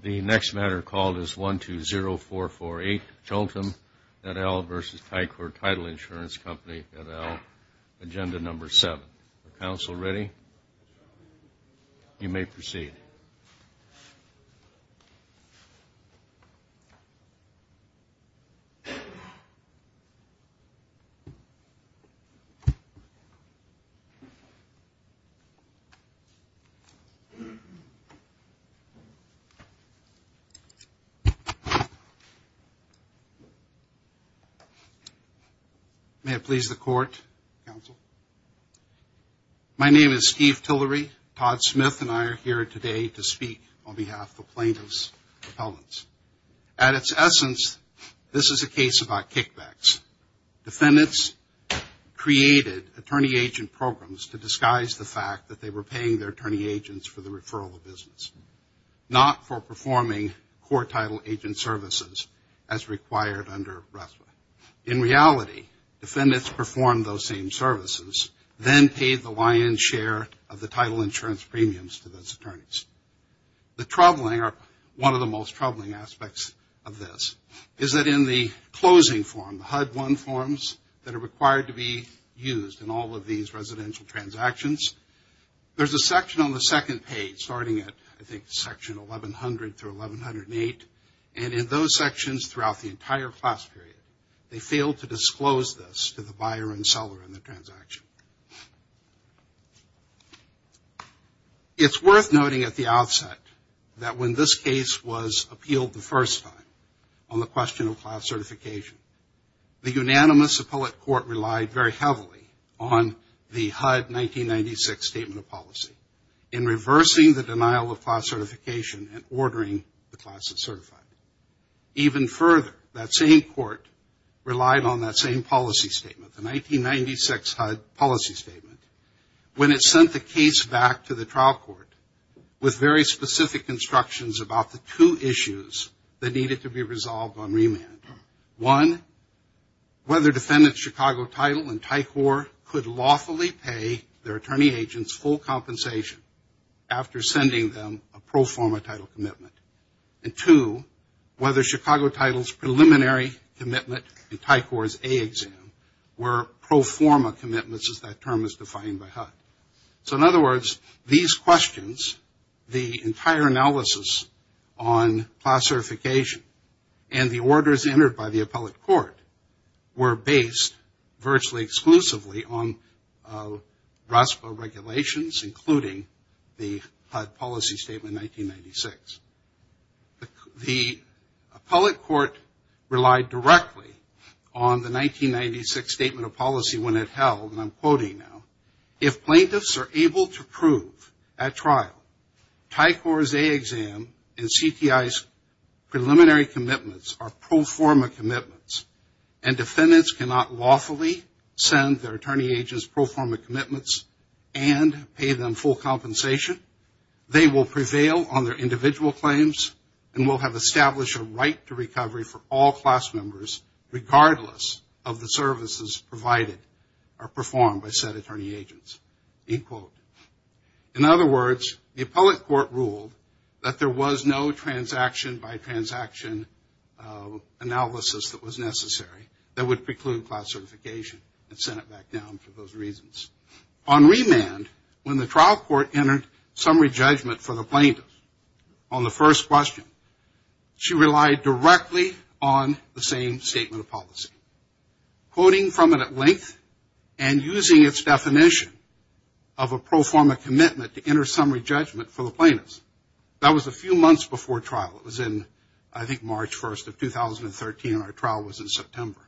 The next matter called is 120448, Chultem et al. v. Ticor Title Insurance Co. et al. Agenda No. 7. Council ready? You may proceed. May it please the Court, Counsel. My name is Steve Tillery. Todd Smith and I are here today to speak on behalf of the plaintiff's appellants. At its essence, this is a case about kickbacks. Defendants created attorney-agent programs to disguise the fact that they were paying their attorney-agents for the referral of business, not for performing court title agent services as required under RESVA. In reality, defendants performed those same services, then paid the lion's share of the title insurance premiums to those attorneys. The troubling or one of the most troubling aspects of this is that in the closing form, the HUD-1 forms that are required to be used in all of these residential transactions, there's a section on the second page starting at, I think, section 1100 through 1108, and in those sections throughout the entire class period, they failed to disclose this to the buyer and seller in the transaction. It's worth noting at the outset that when this case was appealed the first time on the question of class certification, the unanimous appellate court relied very heavily on the HUD 1996 Statement of Policy in reversing the denial of class certification and ordering the classes certified. Even further, that same court relied on that same policy statement, the 1996 HUD Policy Statement, when it sent the case back to the trial court with very specific instructions about the two issues that needed to be resolved on remand. One, whether defendants' Chicago title and TICOR could lawfully pay their attorney-agents full compensation after sending them a pro-forma title commitment. And two, whether Chicago title's preliminary commitment and TICOR's A-exam were pro-forma commitments as that term is defined by HUD. So in other words, these questions, the entire analysis on class certification and the orders entered by the appellate court were based virtually exclusively on RASPA regulations, including the HUD Policy Statement 1996. The appellate court relied directly on the 1996 Statement of Policy when it held, and I'm quoting now, if plaintiffs are able to prove at trial TICOR's A-exam and CTI's preliminary commitments are pro-forma commitments and defendants cannot lawfully send their attorney-agents pro-forma commitments and pay them full compensation, they will prevail on their individual claims and will have established a right to recovery for all class members regardless of the services provided or performed by said attorney-agents, end quote. In other words, the appellate court ruled that there was no transaction-by-transaction analysis that was necessary that would preclude class certification and sent it back down for those reasons. On remand, when the trial court entered summary judgment for the plaintiffs on the first question, she relied directly on the same Statement of Policy. Quoting from it at length and using its definition of a summary judgment for the plaintiffs. That was a few months before trial. It was in, I think, March 1st of 2013 and our trial was in September.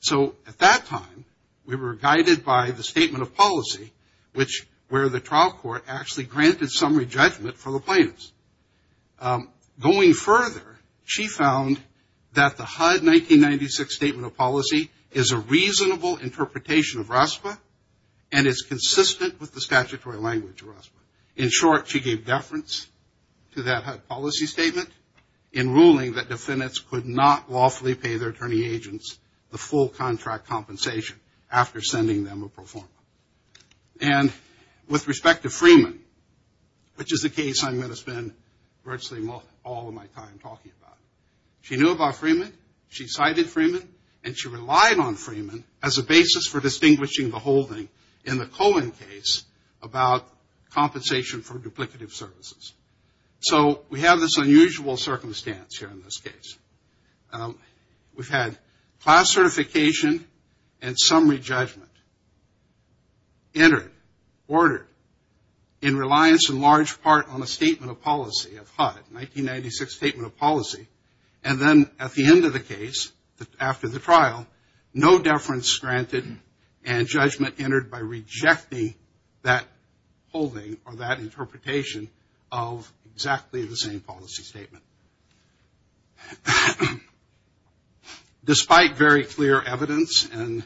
So at that time, we were guided by the Statement of Policy, which where the trial court actually granted summary judgment for the plaintiffs. Going further, she found that the HUD 1996 Statement of Policy is a reasonable interpretation of RASPA and is consistent with the statutory language of RASPA. In short, she gave deference to that HUD Policy Statement in ruling that defendants could not lawfully pay their attorney-agents the full contract compensation after sending them a pro forma. And with respect to Freeman, which is a case I'm going to spend virtually all of my time talking about, she knew about Freeman, she cited Freeman, and she relied on Freeman as a basis for distinguishing the holding in the Cohen case about compensation for duplicative services. So we have this unusual circumstance here in this case. We've had class certification and summary judgment entered, ordered, in reliance in large part on a Statement of Policy of HUD, 1996 Statement of Policy, and then at the end of the case, after the trial, no deference granted and judgment entered by rejecting that holding or that interpretation of exactly the same policy statement. Despite very clear evidence, and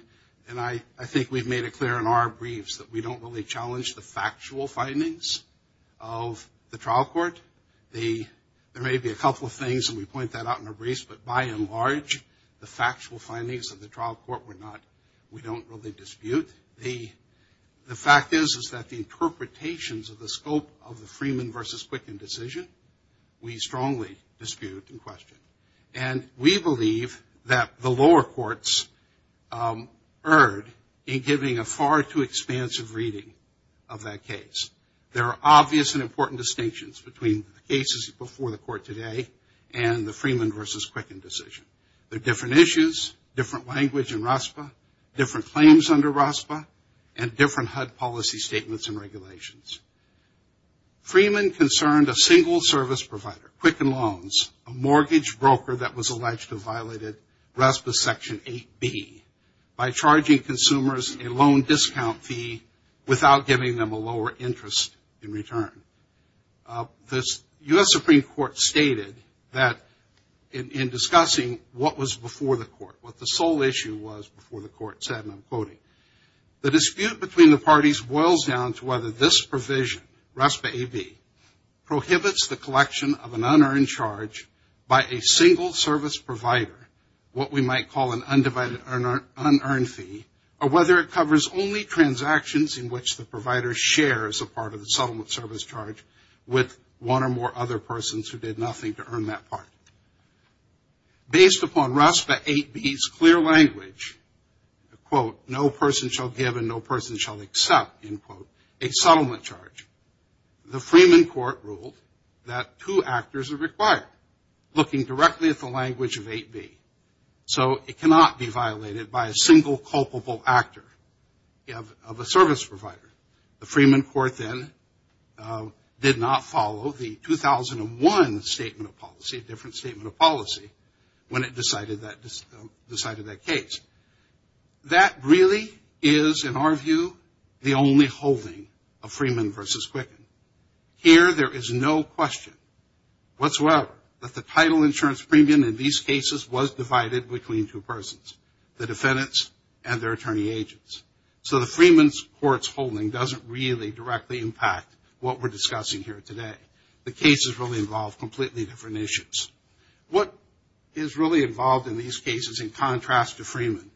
I think we've made it clear in our briefs that we don't really challenge the factual findings of the trial court, there may be a couple of things and we point that out in our briefs, but by and large, the factual findings of the trial of the Freeman v. Quicken decision, we strongly dispute and question. And we believe that the lower courts erred in giving a far too expansive reading of that case. There are obvious and important distinctions between the cases before the court today and the Freeman v. Quicken decision. There are different issues, different language in RASPA, different claims under RASPA, and different HUD policy statements and regulations. Freeman concerned a single service provider, Quicken Loans, a mortgage broker that was alleged to have violated RASPA Section 8B by charging consumers a loan discount fee without giving them a lower interest in return. The U.S. Supreme Court stated that in discussing what was before the court, what the sole issue was before the court said, and I'm quoting, the dispute between the parties boils down to whether this provision, RASPA AB, prohibits the collection of an unearned charge by a single service provider, what we might call an undivided unearned fee, or whether it covers only transactions in which the provider shares a part of the settlement service charge with one or more other persons who did nothing to earn that part. Based upon RASPA 8B's clear language, quote, no person shall give and no person shall accept, end quote, a settlement charge, the Freeman court ruled that two actors are required, looking directly at the language of 8B. So it cannot be violated by a single culpable actor of a service provider. The Freeman court then did not follow the 2001 Statement of Policy, a different Statement of Policy, when it decided that case. That really is, in our view, the only holding of Freeman v. Quicken. Here there is no question whatsoever that the title insurance premium in these cases was divided between two persons, the defendants and their attorney agents. So the Freeman court's holding doesn't really directly impact what we're discussing here today. The cases really involve completely different issues. What is really involved in these cases, in contrast to Freeman,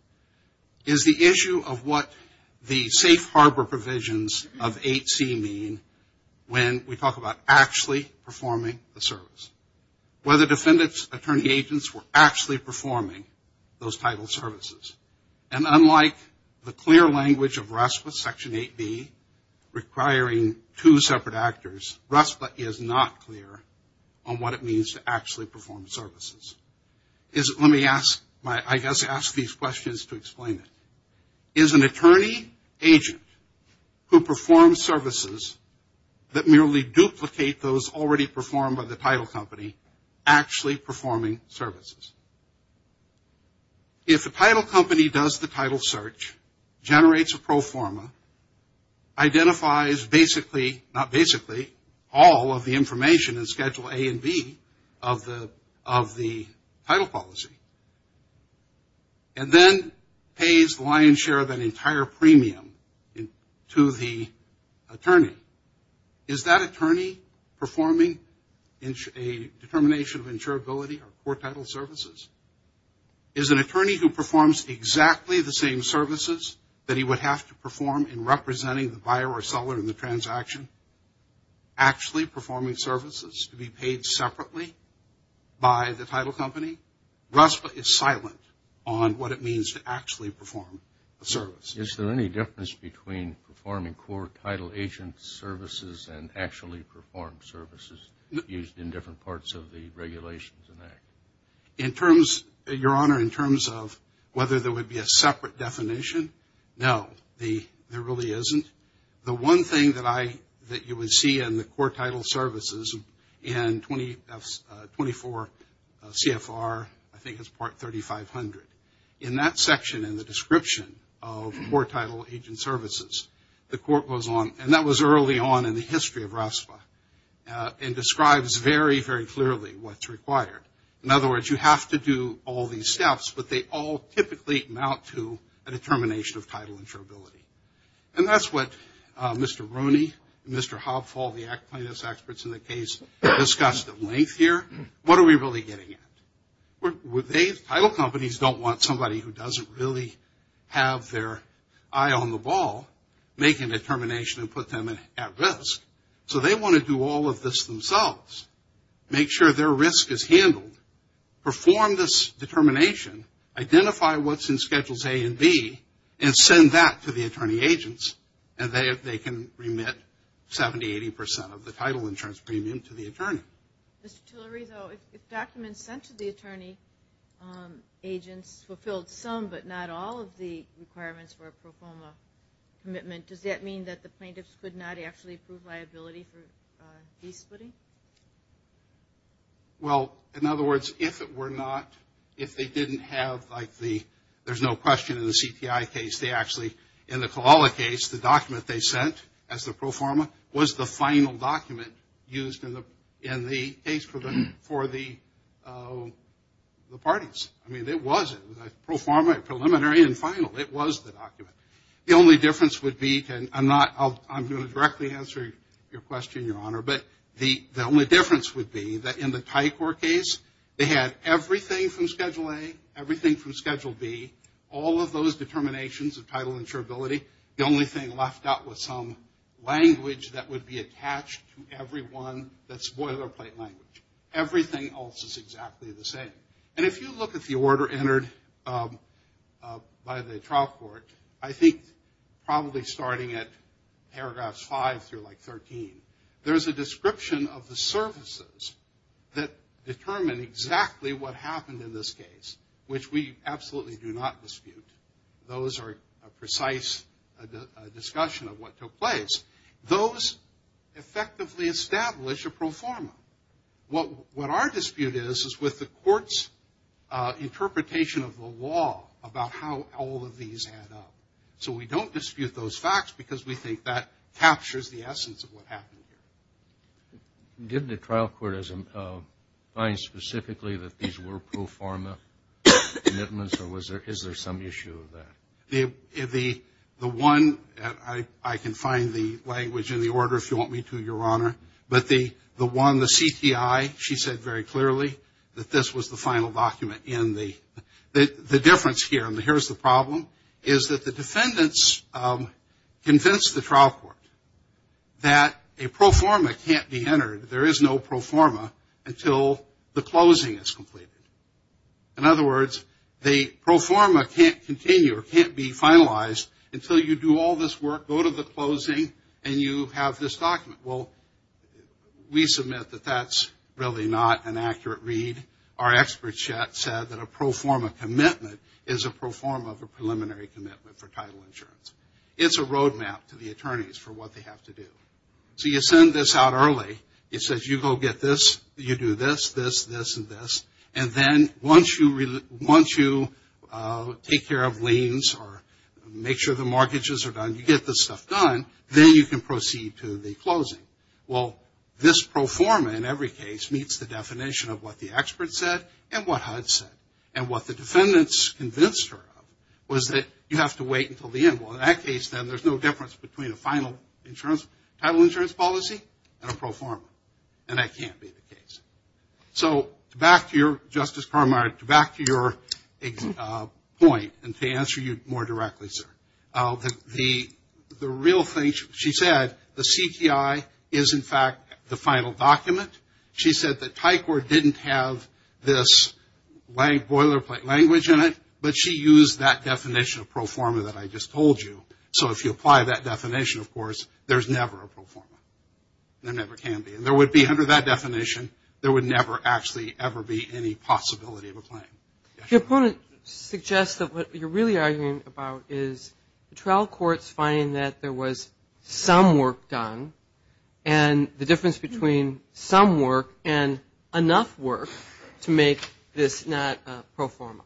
is the issue of what the safe harbor provisions of 8C mean when we talk about actually performing the service. Whether defendants, attorney agents were actually performing those title services. And unlike the clear language of RASPA Section 8B requiring two separate actors, RASPA is not clear on what it means to actually perform services. Let me ask, I guess ask these questions to explain it. Is an attorney agent who performs services that merely duplicate those already performed by the title company actually performing services? If a title company does the title search, generates a pro forma, identifies basically, not basically, all of the information in Schedule A and B of the title policy, and then pays the lion's share of an entire premium to the attorney, is that attorney performing a determination of insurability or poor title services? Is an attorney who performs exactly the same services that he would have to perform in representing the buyer or seller in the transaction actually performing services to be paid separately by the title company? RASPA is silent on what it means to actually perform a service. Is there any difference between performing core title agent services and actually performed services used in different parts of the Regulations and Act? Your Honor, in terms of whether there would be a separate definition, no. There really isn't. The one thing that you would see in the core title services in 24 CFR, I think it's Part 3500, in that section in the description of core title agent services, the Court goes on, and that was early on in the history of RASPA, and describes very, very clearly what's required. In other words, you have to do all these steps, but they all typically amount to a determination of title insurability. And that's what Mr. Rooney, Mr. Hobfall, the plaintiffs experts in the case, discussed at length here. What are we really getting at? Title companies don't want somebody who doesn't really have their eye on the ball making a determination and put them at risk. So they want to do all of this themselves, make sure their risk is handled, perform this determination, identify what's in Schedules A and B, and send that to the attorney agents, and they can remit 70, 80 documents sent to the attorney agents, fulfilled some, but not all of the requirements for a pro forma commitment. Does that mean that the plaintiffs could not actually prove liability for de-splitting? Well, in other words, if it were not, if they didn't have like the, there's no question in the CTI case, they actually, in the Colala case, the document they sent as the pro forma was the final document used in the case for the parties. I mean, it was a pro forma, a preliminary and final. It was the document. The only difference would be, and I'm not, I'm going to directly answer your question, Your Honor, but the only difference would be that in the Tycor case, they had everything from Schedule A, everything from Schedule B, all of those determinations of title insurability. The only thing left out was some language that would be attached to every one that's boilerplate language. Everything else is exactly the same. And if you look at the order entered by the trial court, I think probably starting at paragraphs 5 through like 13, there's a description of the services that determine exactly what happened in this case, which we absolutely do not dispute. Those are a concise discussion of what took place. Those effectively establish a pro forma. What our dispute is, is with the court's interpretation of the law about how all of these add up. So we don't dispute those facts because we think that captures the essence of what happened here. Did the trial court find specifically that these were pro forma commitments or is there some issue with that? The one, I can find the language in the order if you want me to, Your Honor, but the one, the CTI, she said very clearly that this was the final document in the, the difference here, and here's the problem, is that the defendants convinced the trial court that a pro forma can't be entered, there is no pro forma until the closing is completed. In other words, the pro forma can't continue or can't be finalized until you do all this work, go to the closing, and you have this document. Well, we submit that that's really not an accurate read. Our experts said that a pro forma commitment is a pro forma of a preliminary commitment for title insurance. It's a road map to the attorneys for what they have to do. So you send this out early, it says you go get this, you do this, this, and this, and then once you take care of liens or make sure the mortgages are done, you get this stuff done, then you can proceed to the closing. Well, this pro forma in every case meets the definition of what the expert said and what HUD said. And what the defendants convinced her of was that you have to wait until the end. Well, in that case, then there's no difference between a final insurance, title insurance policy and a pro forma, and that can't be the case. So back to your, Justice Carminer, back to your point and to answer you more directly, sir. The real thing she said, the CTI is in fact the final document. She said that Tycor didn't have this boilerplate language in it, but she used that definition of pro forma that I just told you. So if you apply that definition, of course, there's never a pro forma. There never can be. And there would be, under that definition, there would never actually ever be any possibility of a claim. Your opponent suggests that what you're really arguing about is the trial courts finding that there was some work done and the difference between some work and enough work to make this not a pro forma.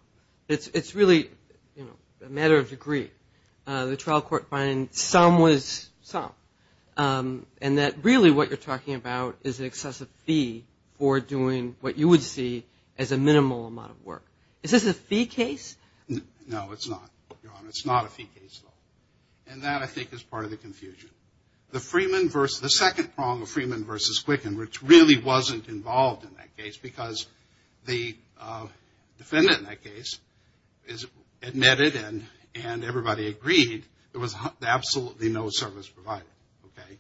It's really, you know, a matter of degree. The trial court finding that some was some, and that really what you're talking about is an excessive fee for doing what you would see as a minimal amount of work. Is this a fee case? No, it's not, Your Honor. It's not a fee case at all. And that, I think, is part of the confusion. The second prong of Freeman versus Quicken, which really wasn't involved in that case because the defendant in that case admitted and everybody agreed there was absolutely no service provided, okay?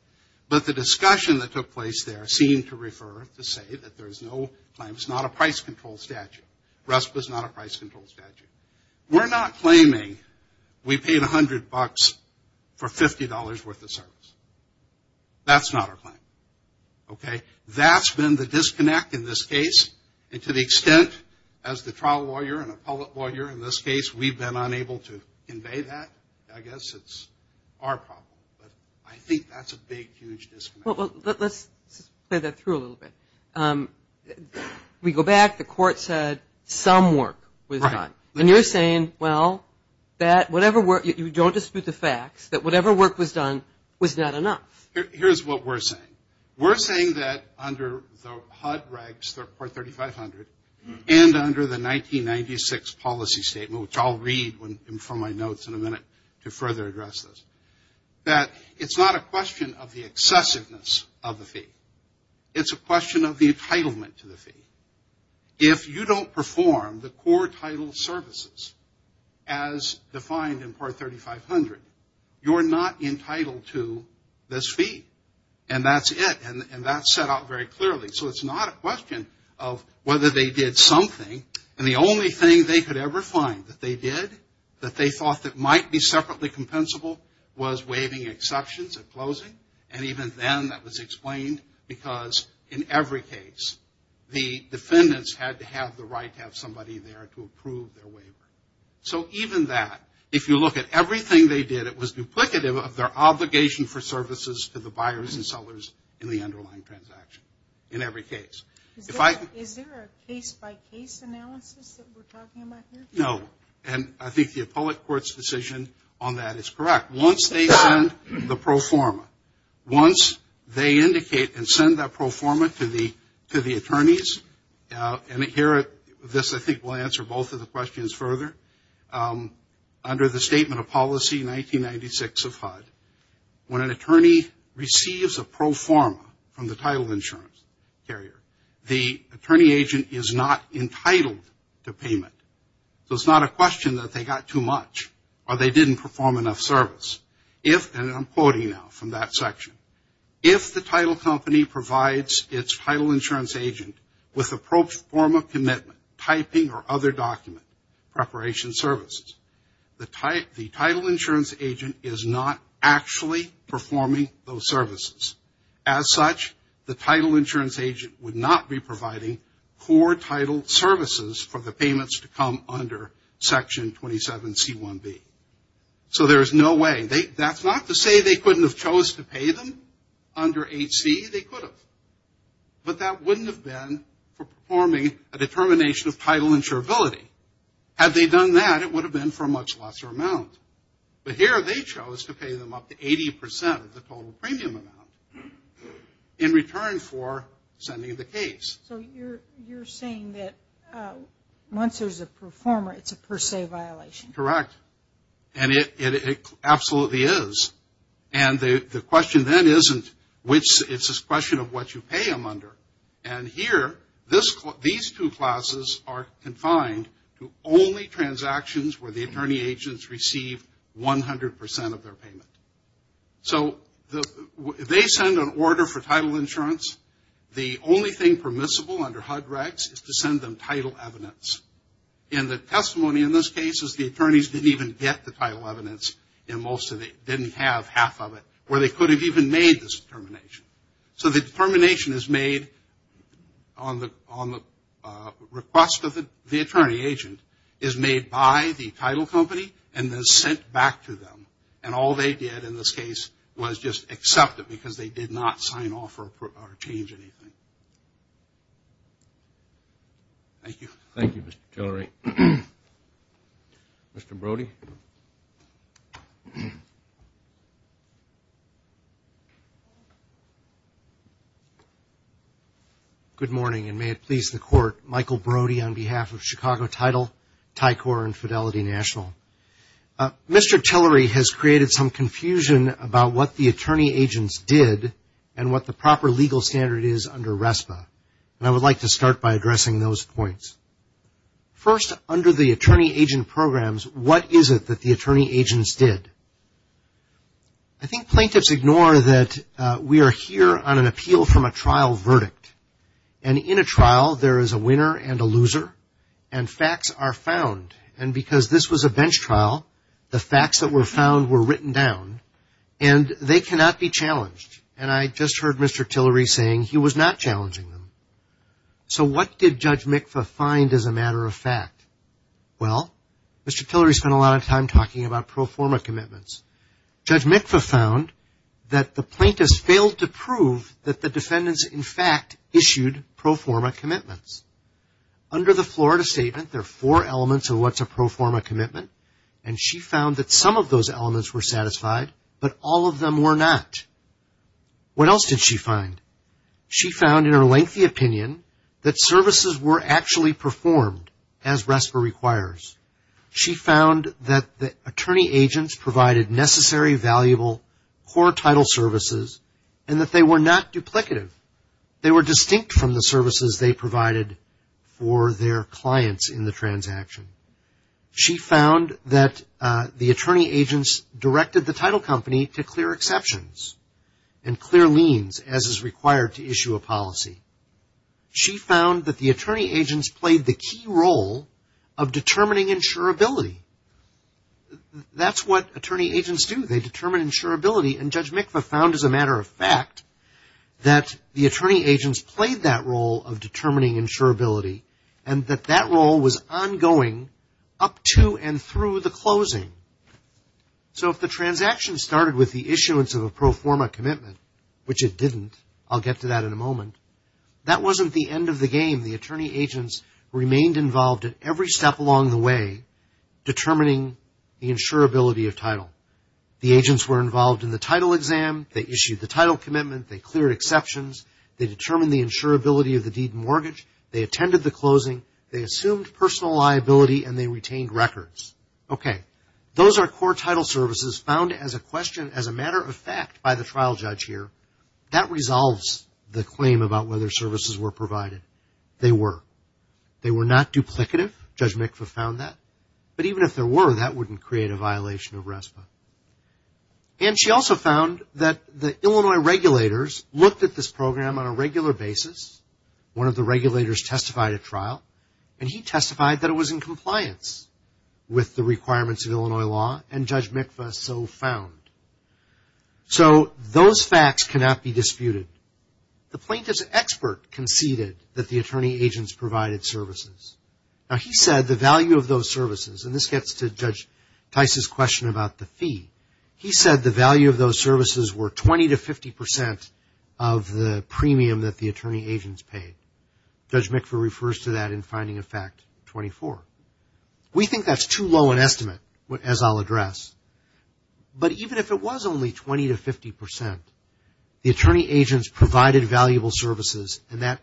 But the discussion that took place there seemed to refer to say that there's no claim. It's not a price control statute. RESPA is not a price control statute. We're not claiming we paid $100 for $50 worth of service. That's not our claim, okay? That's been the disconnect in this case. And to the extent, as the trial lawyer and appellate say, that's not our problem. But I think that's a big, huge disconnect. Well, let's play that through a little bit. We go back. The court said some work was done. And you're saying, well, that whatever work, you don't dispute the facts, that whatever work was done was not enough. Here's what we're saying. We're saying that under the HUD regs, the report 3500, and under the 1996 policy statement, which I'll read from my notes in a minute to further address this, that it's not a question of the excessiveness of the fee. It's a question of the entitlement to the fee. If you don't perform the core title services as defined in Part 3500, you're not entitled to this fee. And that's it. And that's set out very clearly. So it's not a question of whether they did something. And the only thing they could ever find that they did, that they thought that might be separately compensable, was waiving exceptions at closing. And even then, that was explained because in every case, the defendants had to have the right to have somebody there to approve their waiver. So even that, if you look at everything they did, it was duplicative of their obligation for services to the buyers and sellers in the underlying transaction, in every case. Is there a case-by-case analysis that we're talking about here? No. And I think the appellate court's decision on that is correct. Once they send the pro forma, once they indicate and send that pro forma to the attorneys, and here, this I think will answer both of the questions further. Under the Statement of Policy 1996 of HUD, when an attorney receives a pro forma from the title insurance carrier, the attorney agent is not entitled to payment. So it's not a question that they got too much, or they didn't perform enough service. If, and I'm quoting now from that section, if the title company provides its title insurance agent with a pro forma commitment, typing or other document, preparation services, the title insurance agent is not actually performing those services. As such, the title insurance agent would not be providing core title services for the payments to come under Section 27C1B. So there's no way. That's not to say they couldn't have chose to pay them under 8C. They could have. But that wouldn't have been for performing a determination of title insurability. Had they done that, it would have been for a total premium amount in return for sending the case. So you're saying that once there's a pro forma, it's a per se violation? Correct. And it absolutely is. And the question then isn't which, it's a question of what you pay them under. And here, these two classes are confined to only transactions where the they send an order for title insurance. The only thing permissible under HUD-REX is to send them title evidence. And the testimony in this case is the attorneys didn't even get the title evidence and most of it didn't have half of it where they could have even made this determination. So the determination is made on the request of the attorney agent is made by the title company and then sent back to them. And all they did in this case was just accept it because they did not sign off or change anything. Thank you. Thank you, Mr. Tillery. Mr. Brody? Good morning and may it please the Court. Michael Brody on behalf of Chicago Title, Tycor, and Fidelity National. Mr. Tillery has created some confusion about what the attorney agents did and what the proper legal standard is under RESPA. And I would like to start by addressing those points. First, under the attorney agent programs, what is it that the attorney agents did? I think plaintiffs ignore that we are here on an appeal from a trial verdict. And in a trial, there is a winner and a loser and facts are found. And because this was a bench trial, the facts that were found were written down and they cannot be challenged. And I just heard Mr. Tillery saying he was not challenging them. So what did Judge Mikva find as a matter of fact? Well, Mr. Tillery spent a lot of time talking about pro forma commitments. Judge Mikva found that the plaintiffs failed to recognize that the defendants in fact issued pro forma commitments. Under the Florida Statement, there are four elements of what is a pro forma commitment. And she found that some of those elements were satisfied, but all of them were not. What else did she find? She found in her lengthy opinion that services were actually performed as RESPA requires. She found that the attorney agents provided necessary, valuable, core title services and that they were not duplicative. They were distinct from the services they provided for their clients in the transaction. She found that the attorney agents directed the title company to clear exceptions and clear liens as is required to issue a policy. She found that the attorney agents played the key role of determining insurability. That's what attorney agents do. They determine insurability. And Judge Mikva found as a matter of fact that the attorney agents played that role of determining insurability and that that role was ongoing up to and through the closing. So if the transaction started with the issuance of a pro forma commitment, which it didn't, I'll get to that in a moment, that wasn't the end of the game. The attorney agents were involved in the title exam. They issued the title commitment. They cleared exceptions. They determined the insurability of the deed and mortgage. They attended the closing. They assumed personal liability and they retained records. Okay. Those are core title services found as a question, as a matter of fact by the trial judge here. That resolves the claim about whether services were provided. They were. They were not duplicative. Judge Mikva found that the Illinois regulators looked at this program on a regular basis. One of the regulators testified at trial and he testified that it was in compliance with the requirements of Illinois law and Judge Mikva so found. So those facts cannot be disputed. The plaintiff's expert conceded that the attorney agents provided services. Now he said the value of those services and this gets to Judge Tice's question about the fee. He said the value of those services were 20 to 50 percent of the premium that the attorney agents paid. Judge Mikva refers to that in finding of fact 24. We think that's too low an estimate as I'll address. But even if it was only 20 to 50 percent, the attorney agents provided valuable services and that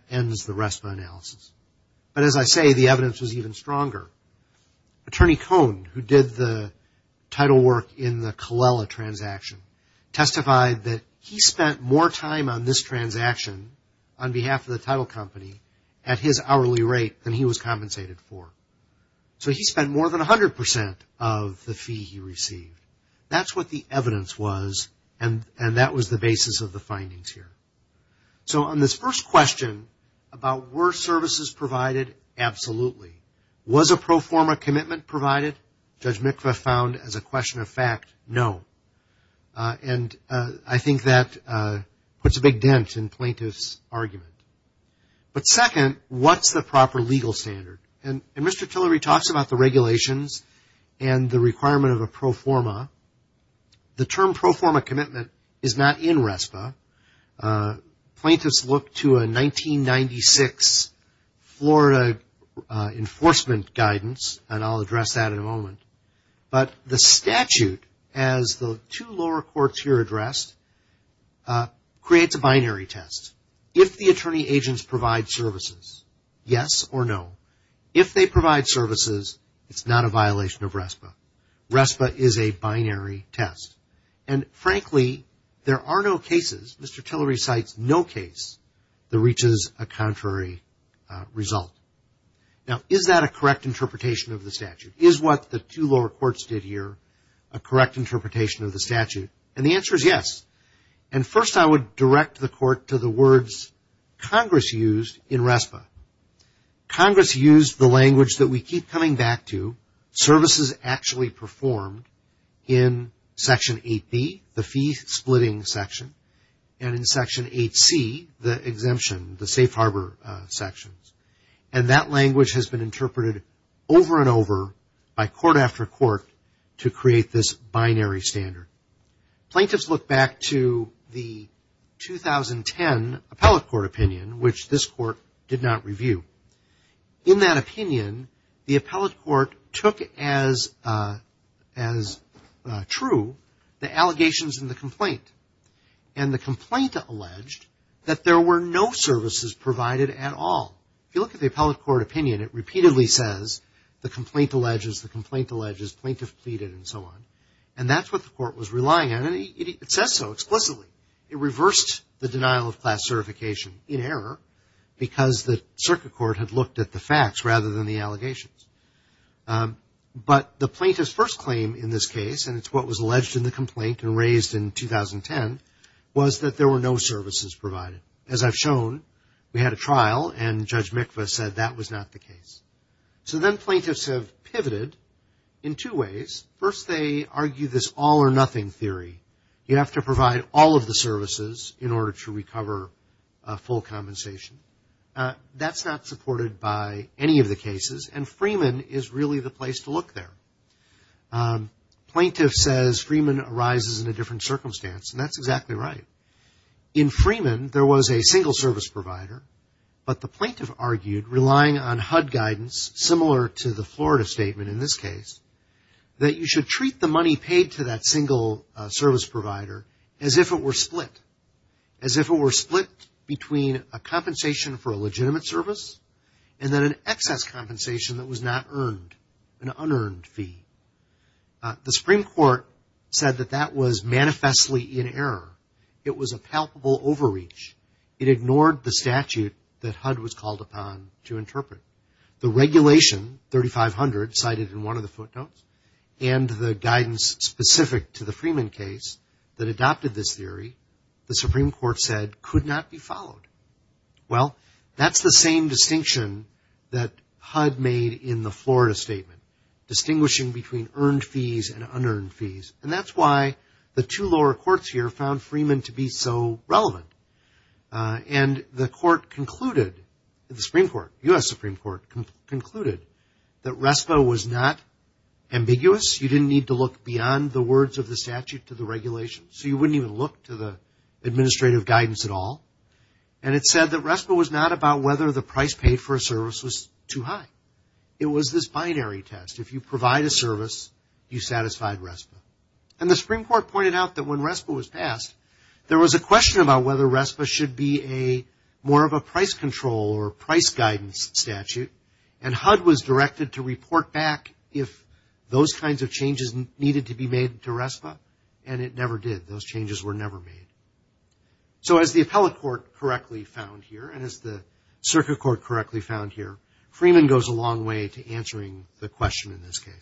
attorney Cohn who did the title work in the Colella transaction testified that he spent more time on this transaction on behalf of the title company at his hourly rate than he was compensated for. So he spent more than 100 percent of the fee he received. That's what the evidence was and that was the basis of the findings here. So on this first question about were services provided, absolutely. Was a pro forma commitment provided? Judge Mikva found as a question of fact, no. And I think that puts a big dent in plaintiff's argument. But second, what's the proper legal standard? And Mr. Tillery talks about the regulations and the requirement of a pro forma. The term pro forma commitment is not in RESPA. Plaintiffs look to a 1996 Florida enforcement guidance and I'll address that in a moment. But the statute as the two lower courts here addressed creates a binary test. If the attorney agents provide services, yes or no. If they provide services, it's not a violation of services. Mr. Tillery cites no case that reaches a contrary result. Now is that a correct interpretation of the statute? Is what the two lower courts did here a correct interpretation of the statute? And the answer is yes. And first I would direct the court to the words Congress used in RESPA. Congress used the language that we keep coming back to, services actually performed in Section 8B, the fee splitting section and in Section 8C, the exemption, the safe harbor sections. And that language has been interpreted over and over by court after court to create this binary standard. Plaintiffs look back to the 2010 Appellate Court opinion, which this court did not review. In that opinion, the Appellate Court took as true the allegations in the complaint. And the complaint alleged that there were no services provided at all. If you look at the Appellate Court opinion, it repeatedly says the complaint alleges, the complaint alleges, plaintiff pleaded and so on. And that's what the court was relying on and it says so explicitly. It reversed the denial of class certification in error because the circuit court had looked at the facts rather than the allegations. But the plaintiff's first claim in this case, and it's what was alleged in the complaint and raised in 2010, was that there were no services provided. As I've shown, we had a trial and Judge Mikva said that was not the case. So then plaintiffs have pivoted in two ways. First they argue this all or nothing theory. You have to provide all of the services in order to recover full compensation. That's not supported by any of the cases and Freeman is really the place to look there. Plaintiff says Freeman arises in a different circumstance and that's exactly right. In Freeman, there was a single service provider, but the plaintiff argued, relying on HUD guidance, similar to the Florida statement in this case, that you should treat the money paid to that single service provider as if it were split. As if it were split between a compensation for a legitimate service and then an excess compensation that was not earned, an unearned fee. The Supreme Court said that that was manifestly in error. It was a palpable overreach. It ignored the statute that HUD was called upon to interpret. The regulation, 3500, cited in one of the footnotes, and the guidance specific to the Freeman case that adopted this theory, the Supreme Court said could not be followed. Well, that's the same distinction that HUD made in the Florida statement, distinguishing between earned fees and unearned fees. And that's why the two lower courts here found Freeman to be so relevant. And the court concluded, the Supreme Court, U.S. Supreme Court concluded that RESPA was not ambiguous. You didn't need to look beyond the words of the statute to the regulation. So you wouldn't even look to the administrative guidance at all. And it said that RESPA was not about whether the price paid for a service was too high. It was this binary test. If you provide a service, you satisfied RESPA. And the Supreme Court pointed out that when RESPA was passed, there was a question about whether RESPA should be more of a price control or price guidance statute. And HUD was directed to report back if those kinds of changes needed to be made to RESPA. And it never did. Those changes were never made. So as the appellate court correctly found here, and as the circuit court correctly found here, Freeman goes a long way to answering the question in this position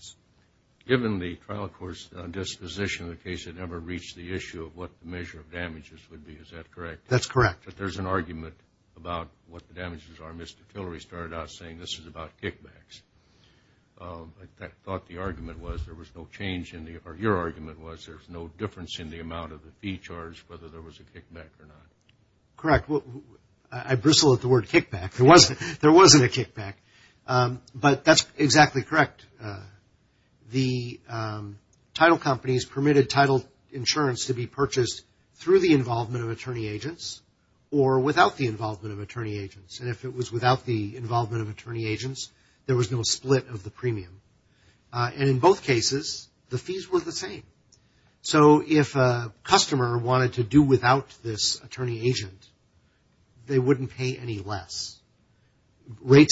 in the case it never reached the issue of what the measure of damages would be. Is that correct? That's correct. But there's an argument about what the damages are. Mr. Tillery started out saying this is about kickbacks. I thought the argument was there was no change in the, or your argument was there's no difference in the amount of the fee charged whether there was a kickback or not. Correct. I bristle at the word kickback. There wasn't a kickback. But that's exactly correct. The title companies permitted title insurance to be purchased through the involvement of attorney agents or without the involvement of attorney agents. And if it was without the involvement of attorney agents, there was no split of the premium. And in both cases, the fees were the same. So if a customer wanted to do without this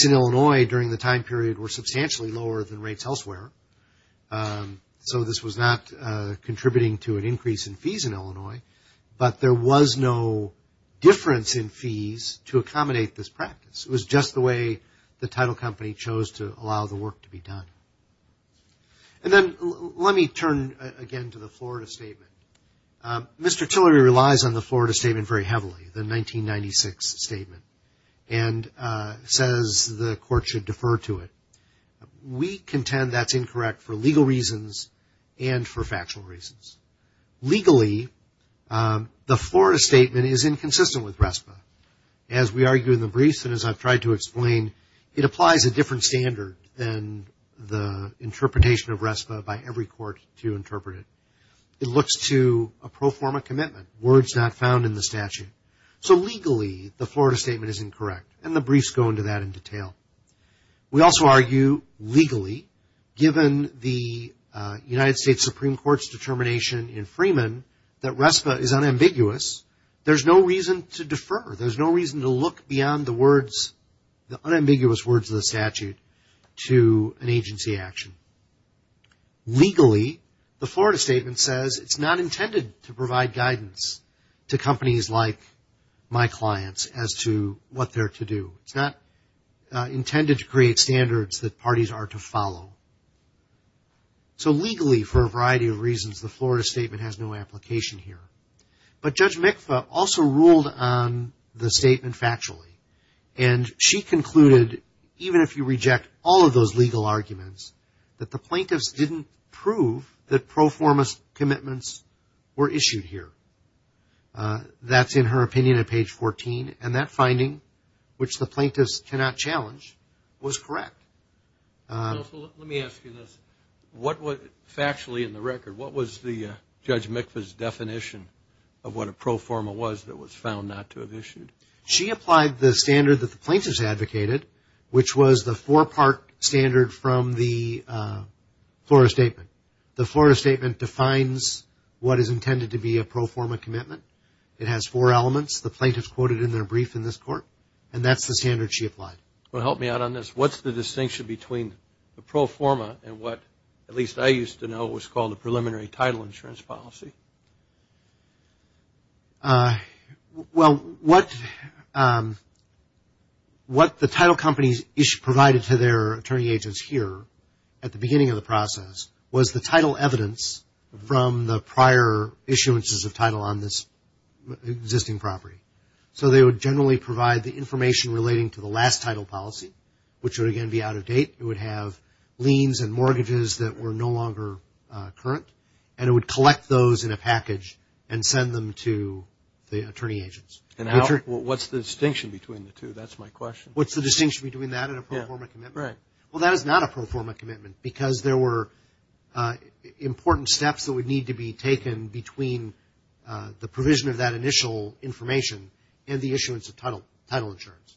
Illinois during the time period were substantially lower than rates elsewhere. So this was not contributing to an increase in fees in Illinois. But there was no difference in fees to accommodate this practice. It was just the way the title company chose to allow the work to be done. And then let me turn again to the Florida statement. Mr. Tillery relies on the Florida court should defer to it. We contend that's incorrect for legal reasons and for factual reasons. Legally, the Florida statement is inconsistent with RESPA. As we argue in the briefs and as I've tried to explain, it applies a different standard than the interpretation of RESPA by every court to interpret it. It looks to a pro forma commitment. Words not found in the statute. So legally, the Florida statement is incorrect. And the briefs go into that in detail. We also argue legally, given the United States Supreme Court's determination in Freeman, that RESPA is unambiguous. There's no reason to defer. There's no reason to look beyond the words, the unambiguous words of the statute to an agency action. Legally, the Florida statement says it's not intended to provide guidance to companies like my clients as to what they're to do. It's not intended to create standards that parties are to follow. So legally, for a variety of reasons, the Florida statement has no application here. But Judge Mikva also ruled on the statement factually. And she concluded, even if you reject all of those legal arguments, that the plaintiffs didn't prove that pro forma commitments were issued here. That's in her opinion at page 14. And that finding, which the plaintiffs cannot challenge, was correct. Let me ask you this. Factually, in the record, what was Judge Mikva's definition of what a pro forma was that was found not to have been issued? She applied the standard that the plaintiffs advocated, which was the four-part standard from the Florida statement. The Florida statement defines what is intended to be a pro forma commitment. It has four elements. The plaintiffs quoted in their brief in this court. And that's the standard she applied. Well, help me out on this. What's the distinction between the pro forma and what, at least I used to know, was called a preliminary title insurance policy? Well, what the title companies provided to their attorney agents here at the beginning of the process was the title evidence from the prior issuances of title on this existing property. So they would generally provide the information relating to the last title policy, which would again be out of date. It would have liens and mortgages that were no longer current. And it would collect those in a package and send them to the attorney agents. And what's the distinction between the two? That's my question. What's the distinction between that and a pro forma commitment? Right. Well, that is not a pro forma commitment because there were important steps that would need to be taken between the provision of that initial information and the issuance of title insurance.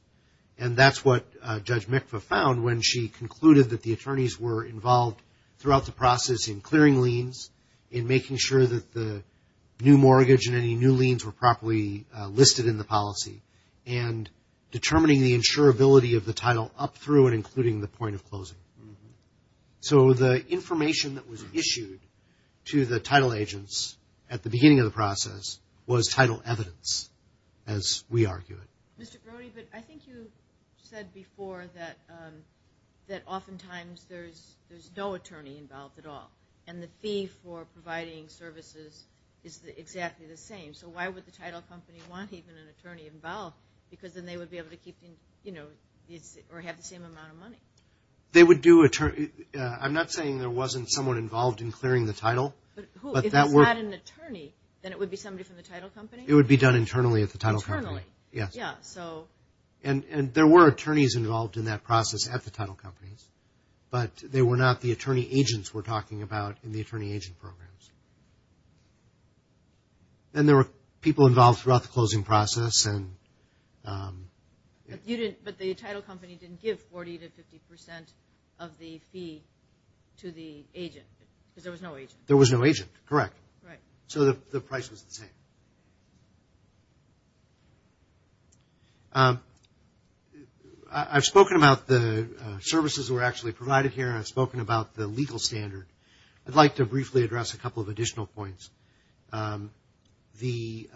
And that's what Judge Mikva found when she concluded that the attorneys were involved throughout the process in clearing liens, in making sure that the new mortgage and any new liens were properly listed in the policy, and determining the insurability of the title up through and including the point of closing. So the information that was issued to the title agents at the beginning of the process was title evidence, as we argue it. Mr. Brody, but I think you said before that oftentimes there's no attorney involved at all. And the fee for providing services is exactly the same. So why would the title company want even an attorney involved? Because then they would be able to keep, you know, or have the same amount of money. They would do a, I'm not saying there wasn't someone involved in clearing the title. But who? If it's not an attorney, then it would be somebody from the title company? It would be done internally at the title company. Internally? Yes. Yeah, so. And there were attorneys involved in that process at the title companies, but they were not the attorney agents we're talking about in the attorney agent programs. And there were people involved throughout the closing process and... But you didn't, but the title company didn't give 40 to 50 percent of the fee to the agent, because there was no agent. There was no agent, correct. Right. So the price was the same. I've spoken about the services that were actually provided here and I've spoken about the legal standard. I'd like to briefly address a couple of additional points. The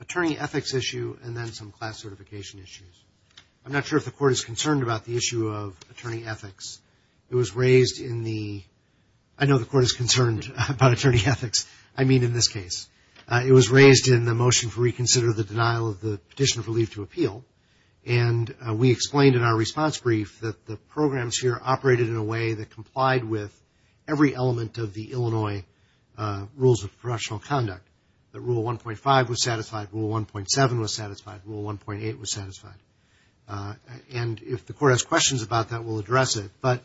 attorney ethics issue and then some class certification issues. I'm not sure if the court is concerned about the issue of attorney ethics. It was raised in the, I know the court is concerned about the issue of attorney ethics. I mean, in this case. It was raised in the motion for reconsider the denial of the petition for leave to appeal. And we explained in our response brief that the programs here operated in a way that complied with every element of the Illinois Rules of Procedural Conduct. That Rule 1.5 was satisfied, Rule 1.7 was satisfied, Rule 1.8 was satisfied. And if the court has questions about that, we'll address it. But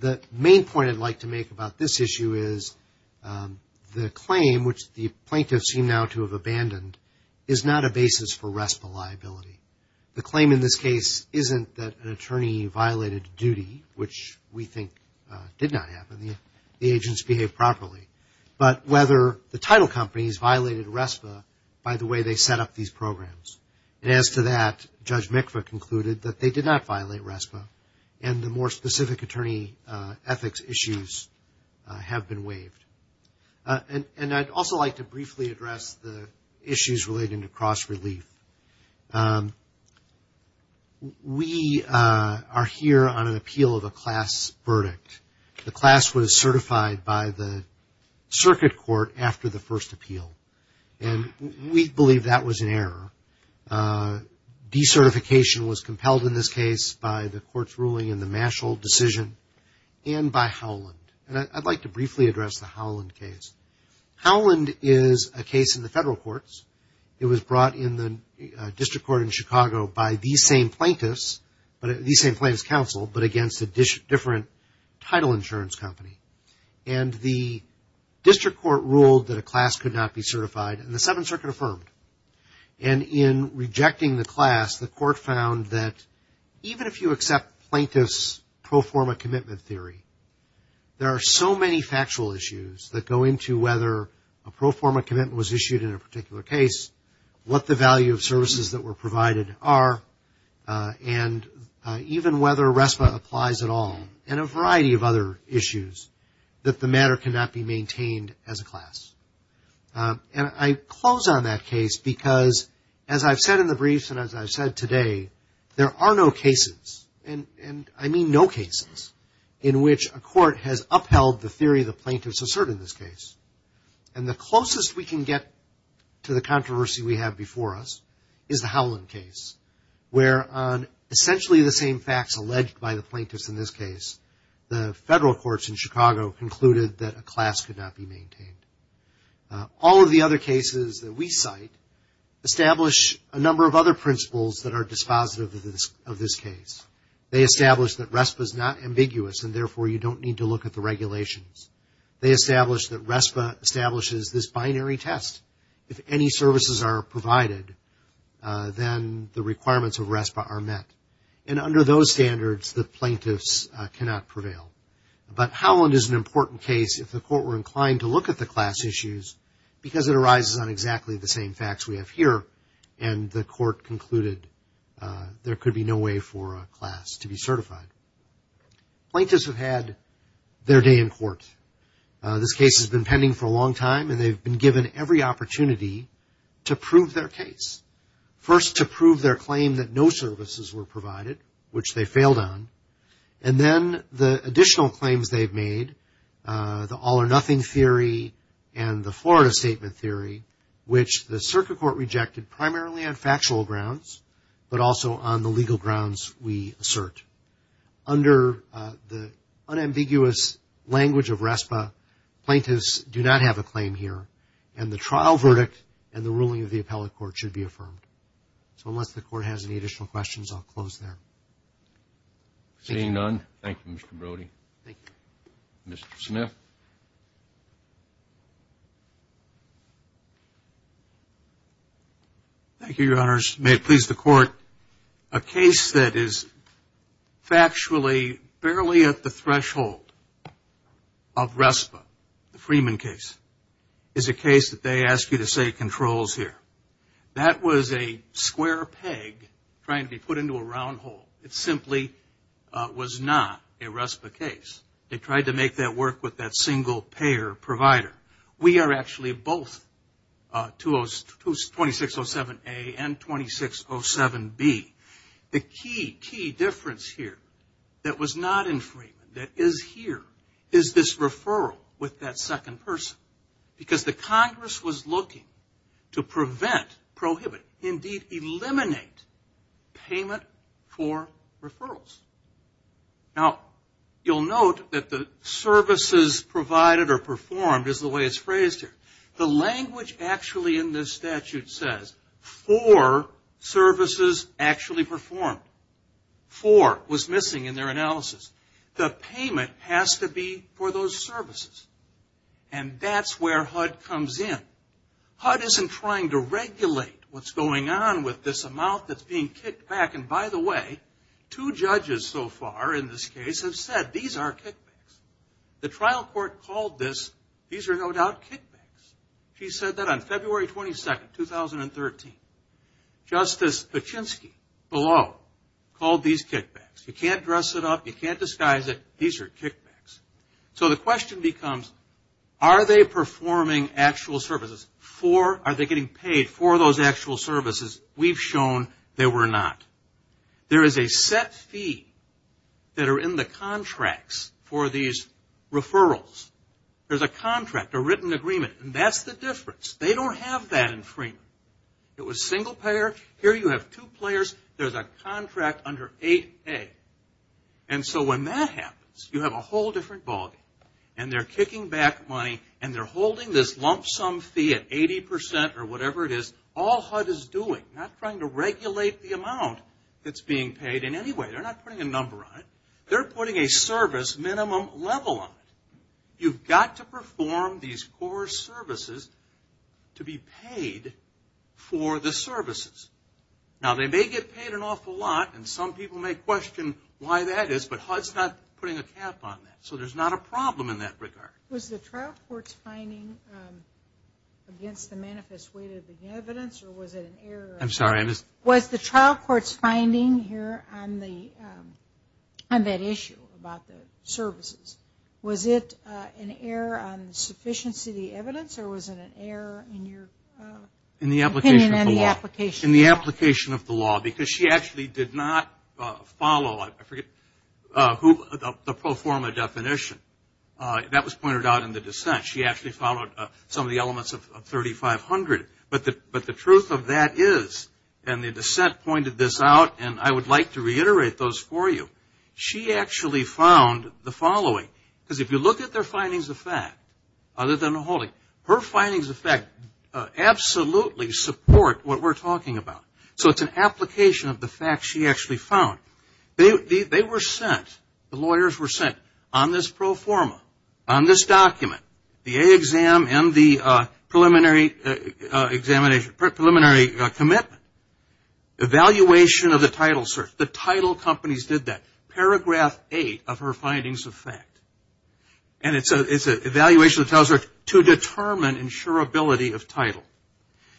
the main point I'd like to make about this issue is the claim, which the plaintiffs seem now to have abandoned, is not a basis for RESPA liability. The claim in this case isn't that an attorney violated duty, which we think did not happen. The agents behaved properly. But whether the title companies violated RESPA by the way they set up these programs. And as to that, Judge Mikva concluded that they did not violate RESPA. And the more specific attorney ethics issues have been waived. And I'd also like to briefly address the issues relating to cross-relief. We are here on an appeal of a class verdict. The class was certified by the circuit court after the first appeal. And we believe that was an error. De-certification was compelled in this case by the court's ruling in the Mashall decision and by Howland. And I'd like to briefly address the Howland case. Howland is a case in the federal courts. It was brought in the district court in Chicago by these same plaintiffs, these same plaintiffs' counsel, but against a different title insurance company. And the district court ruled that a class could not be certified. And the Seventh Circuit affirmed. And in rejecting the class, the court found that even if you accept plaintiffs' pro forma commitment theory, there are so many factual issues that go into whether a pro forma commitment was issued in a particular case, what the value of services that were provided are, and even whether RESPA applies at all. And a variety of other issues that the matter cannot be maintained as a class. And I close on that case because, as I've said in the briefs and as I've said today, there are no cases, and I mean no cases, in which a court has upheld the theory the plaintiffs assert in this case. And the closest we can get to the controversy we have before us is the Howland case, where on essentially the same facts alleged by the plaintiffs in this case. All of the other cases that we cite establish a number of other principles that are dispositive of this case. They establish that RESPA is not ambiguous, and therefore you don't need to look at the regulations. They establish that RESPA establishes this binary test. If any services are provided, then the requirements of RESPA are met. And under those standards, the plaintiffs cannot prevail. But Howland is an important case if the court were inclined to look at the class issues, because it arises on exactly the same facts we have here, and the court concluded there could be no way for a class to be certified. Plaintiffs have had their day in court. This case has been pending for a long time, and they've been given every opportunity to prove their case. First, to prove their claim that no services were provided, which they failed on. And then the additional claims they've made, the all-or-nothing theory and the Florida statement theory, which the circuit court rejected primarily on factual grounds, but also on the legal grounds we assert. Under the unambiguous language of RESPA, plaintiffs do not have a claim here, and the trial verdict and the ruling of the appellate court should be affirmed. So unless the court has any additional questions, I'll close there. Seeing none, thank you, Mr. Brody. Thank you. Mr. Smith. Thank you, Your Honors. May it please the Court, a case that is factually barely at the threshold of RESPA, the Freeman case, is a case that they ask you to say controls here. That was a square peg trying to be put into a round hole. It simply was not a RESPA case. They tried to make that work with that single-payer provider. We are actually both 2607A and 2607B. The key, key difference here that was not in Freeman, that is here, is this referral with that second person. Because the Congress was looking to prevent, prohibit, indeed, eliminate payment for referrals. Now, you'll note that the services provided or performed is the way it's phrased here. The language actually in this statute says four services actually performed. Four was missing in their analysis. The payment has to be for those services. And that's where HUD comes in. HUD isn't trying to regulate what's going on with this amount that's being kicked back. And by the way, two judges so far in this case have said these are kickbacks. The trial court called this, these are no doubt kickbacks. She said that on February 22nd, 2013. Justice Paczynski below called these kickbacks. You know, the question becomes, are they performing actual services? Are they getting paid for those actual services? We've shown they were not. There is a set fee that are in the contracts for these referrals. There's a contract, a written agreement, and that's the difference. They don't have that in Freeman. It was single-payer. Here you have two players. There's a contract under 8A. And so when that happens, you have a whole different ballgame. And they're kicking back money and they're holding this lump sum fee at 80% or whatever it is. All HUD is doing, not trying to regulate the amount that's being paid in any way. They're not putting a number on it. They're putting a service minimum level on it. You've got to perform these four services to be paid for the services. Now they may get paid an awful lot, and some people may question why that is, but HUD's not putting a cap on that. So there's not a problem in that regard. Was the trial court's finding against the manifest weight of the evidence or was it an error? Was the trial court's finding here on that issue about the services, was it an error in your opinion and the application of the law? In the application of the law, because she actually did not follow the pro forma definition. That was pointed out in the dissent. She actually followed some of the elements of 3500. But the truth of that is, and the dissent pointed this out, and I would like to reiterate those for you, she actually found the following. Because if you look at their findings of fact other than the holding, her findings of fact absolutely support what we're talking about. So it's an application of the fact she actually found. They were sent, the lawyers were sent on this pro forma, on this document, the A exam and the preliminary commitment, evaluation of the title search. The title companies did that. Paragraph 8 of her findings of fact. And it's an evaluation of the title search to determine insurability of title.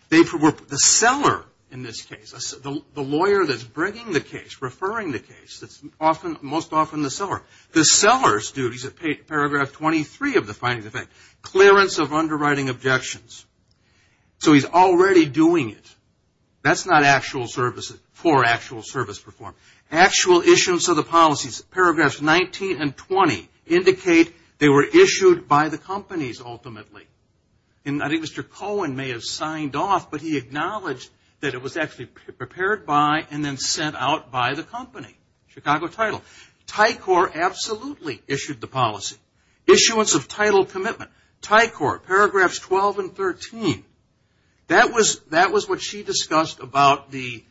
The seller in this case, the lawyer that's bringing the case, referring the case, that's most often the seller. The seller's duties at paragraph 23 of the findings of fact, clearance of underwriting objections. So he's already doing it. That's not for actual service performance. Actual issuance of the policies. Paragraphs 19 and 20 indicate they were issued by the companies ultimately. And I think Mr. Cohen may have signed off, but he acknowledged that it was actually prepared by and then sent out by the company, Chicago Title. Tycor absolutely issued the policy. Issuance of title commitment. Tycor, paragraphs 12 and 13. That was what she discussed about the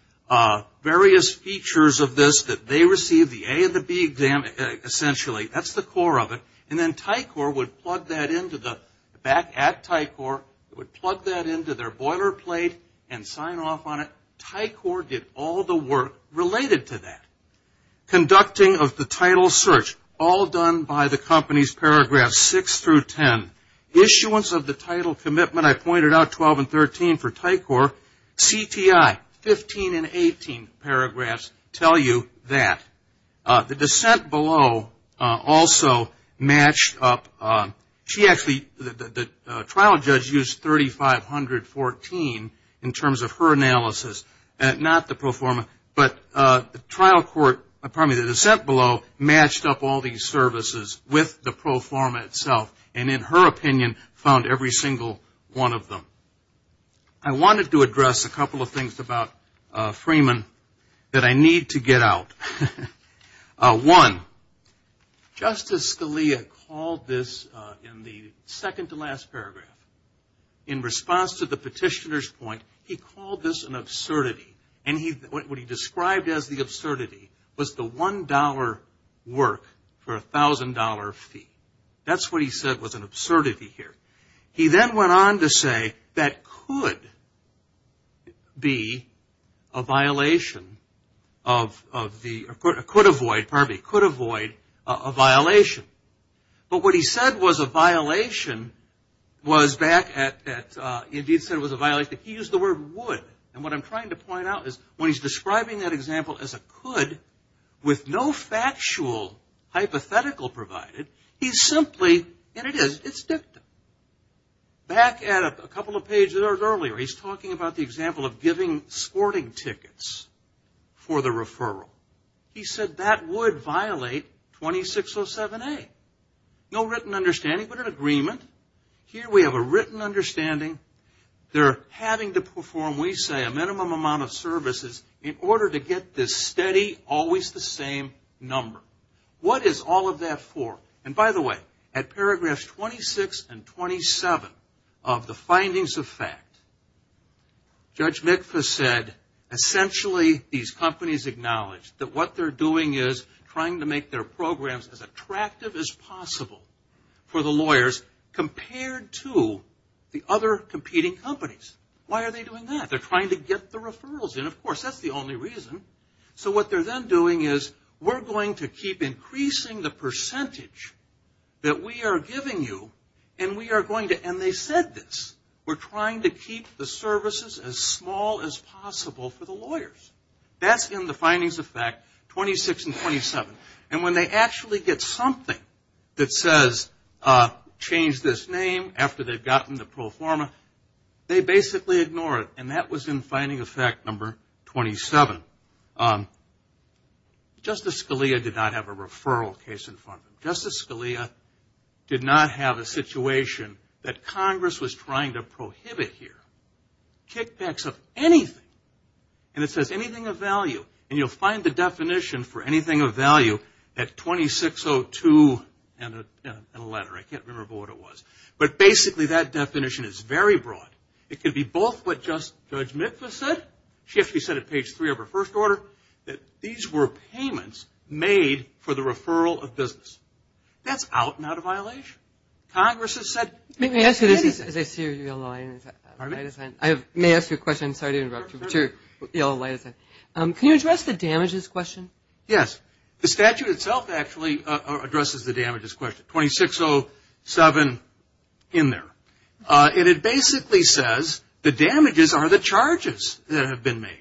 various features of this that they received, the A and the B exam, essentially. That's the core of it. And then Tycor would plug that into the, back at Tycor, would plug that into their boilerplate and sign off on it. Tycor did all the work related to that. Conducting of the title search. All done by the company's paragraph 6 through 10. Issuance of the title commitment. I pointed out 12 and 13 for Tycor. CTI, 15 and 18 paragraphs tell you that. The dissent below also matched up. She actually, the trial judge used 3,514 in terms of her analysis, not the pro forma, but the trial court, pardon me, the dissent below matched up all these services with the pro forma itself. And in her opinion found every single one of them. I wanted to address a couple of things about Freeman that I need to get out. One, Justice Scalia called this in the second to last paragraph, in response to the petitioner's point, he called this an absurdity. And what he described as the $1,000 work for a $1,000 fee. That's what he said was an absurdity here. He then went on to say that could be a violation of the, could avoid, pardon me, could avoid a violation. But what he said was a violation was back at, he did say it was a violation. He used the word would. And what I'm trying to point out is when he's describing that example as a could with no factual hypothetical provided, he's simply, and it is, it's dictum. Back at a couple of pages earlier, he's talking about the example of giving sporting tickets for the referral. He said that would violate 2607A. No written understanding, but an agreement. Here we have a written understanding. They're having to perform, we say, a minimum amount of services in order to get this steady, always the same number. What is all of that for? And by the way, at paragraphs 26 and 27 of the findings of fact, Judge McPhus said essentially these companies acknowledge that what they're doing is trying to make their programs as attractive as possible for the lawyers compared to the other competing companies. Why are they doing that? They're trying to get the referrals in. Of course, that's the only reason. So what they're then doing is we're going to keep increasing the percentage that we are giving you and we are going to, and they said this, we're trying to keep the services as small as possible for the lawyers. That's in the findings of fact 26 and 27. And when they actually get something that says change this name after they've gotten the pro forma, they basically ignore it, and that was in finding of fact number 27. Justice Scalia did not have a referral case in front of him. Justice Scalia did not have a situation that Congress was trying to prohibit here. Kickbacks of anything, and it says anything of value, and you'll find the definition for anything of value at 2602 in a letter. I can't say the definition is very broad. It could be both what Judge Mitva said, she actually said it page three of her first order, that these were payments made for the referral of business. That's out and out of violation. Congress has said... May I ask you a question? Sorry to interrupt you. Can you address the damages question? Yes. The statute itself actually addresses the damages question. 2607 in there. And it basically says the damages are the charges that have been made.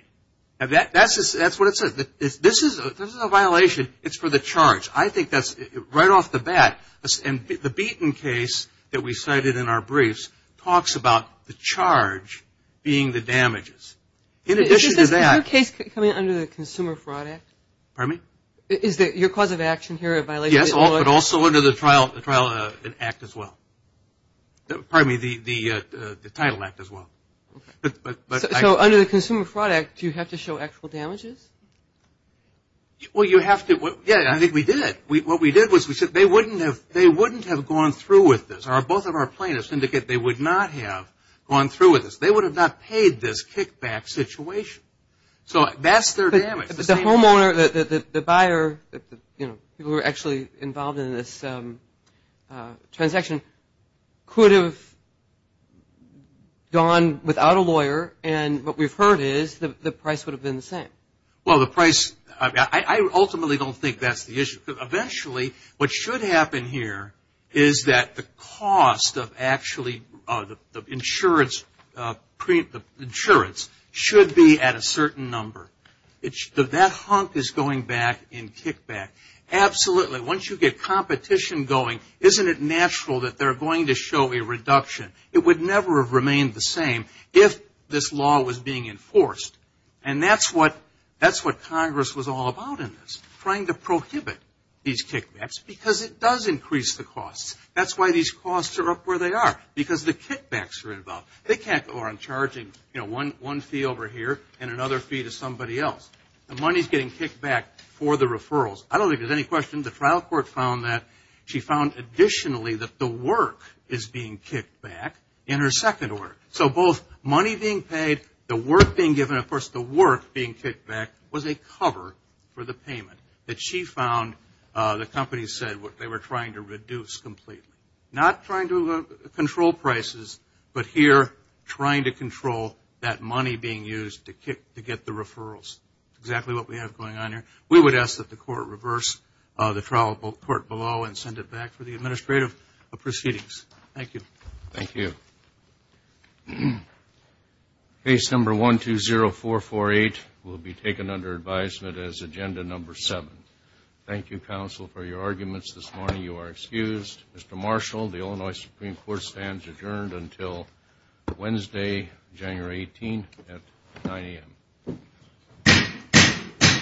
That's what it says. This is a violation. It's for the charge. I think that's right off the bat, and the Beaton case that we cited in our briefs talks about the charge being the damages. In addition to that... Is this another case coming under the Consumer Fraud Act? Pardon me? Yes, but also under the Title Act as well. So under the Consumer Fraud Act, do you have to show actual damages? Well, you have to. I think we did. What we did was we said they wouldn't have gone through with this. Both of our plaintiffs indicate they would not have gone through with this. They would have not paid this kickback situation. So that's their damage. But the homeowner, the buyer, who were actually involved in this transaction, could have gone without a lawyer, and what we've heard is the price would have been the same. Well, the price... I ultimately don't think that's the issue. Eventually, what should happen here is that the cost of actually... The insurance should be at a certain number. That hump is going back in kickback. Absolutely. Once you get competition going, isn't it natural that they're going to show a reduction? It would never have remained the same if this law was being enforced, and that's what Congress was all about in this, trying to prohibit these kickbacks because it does increase the costs. That's why these costs are up where they are, because the kickbacks are involved. They can't go on charging one fee over here and another fee to somebody else. The money's getting kicked back for the referrals. I don't think there's any question the trial court found that. She found additionally that the work is being kicked back in her second order. So both money being paid, the work being given, and of course the work being kicked back was a cover for the payment that she found the company said they were trying to reduce completely. Not trying to control prices, but here trying to control that money being used to get the referrals. That's exactly what we have going on here. We would ask that the court reverse the trial court below and send it back for the administrative proceedings. Thank you. Thank you. Case number 120448 will be taken under advisement as agenda number 7. Thank you, counsel, for your arguments this morning. You are excused. Mr. Marshall, the Illinois Supreme Court stands adjourned until Wednesday, January 18th at 9 a.m.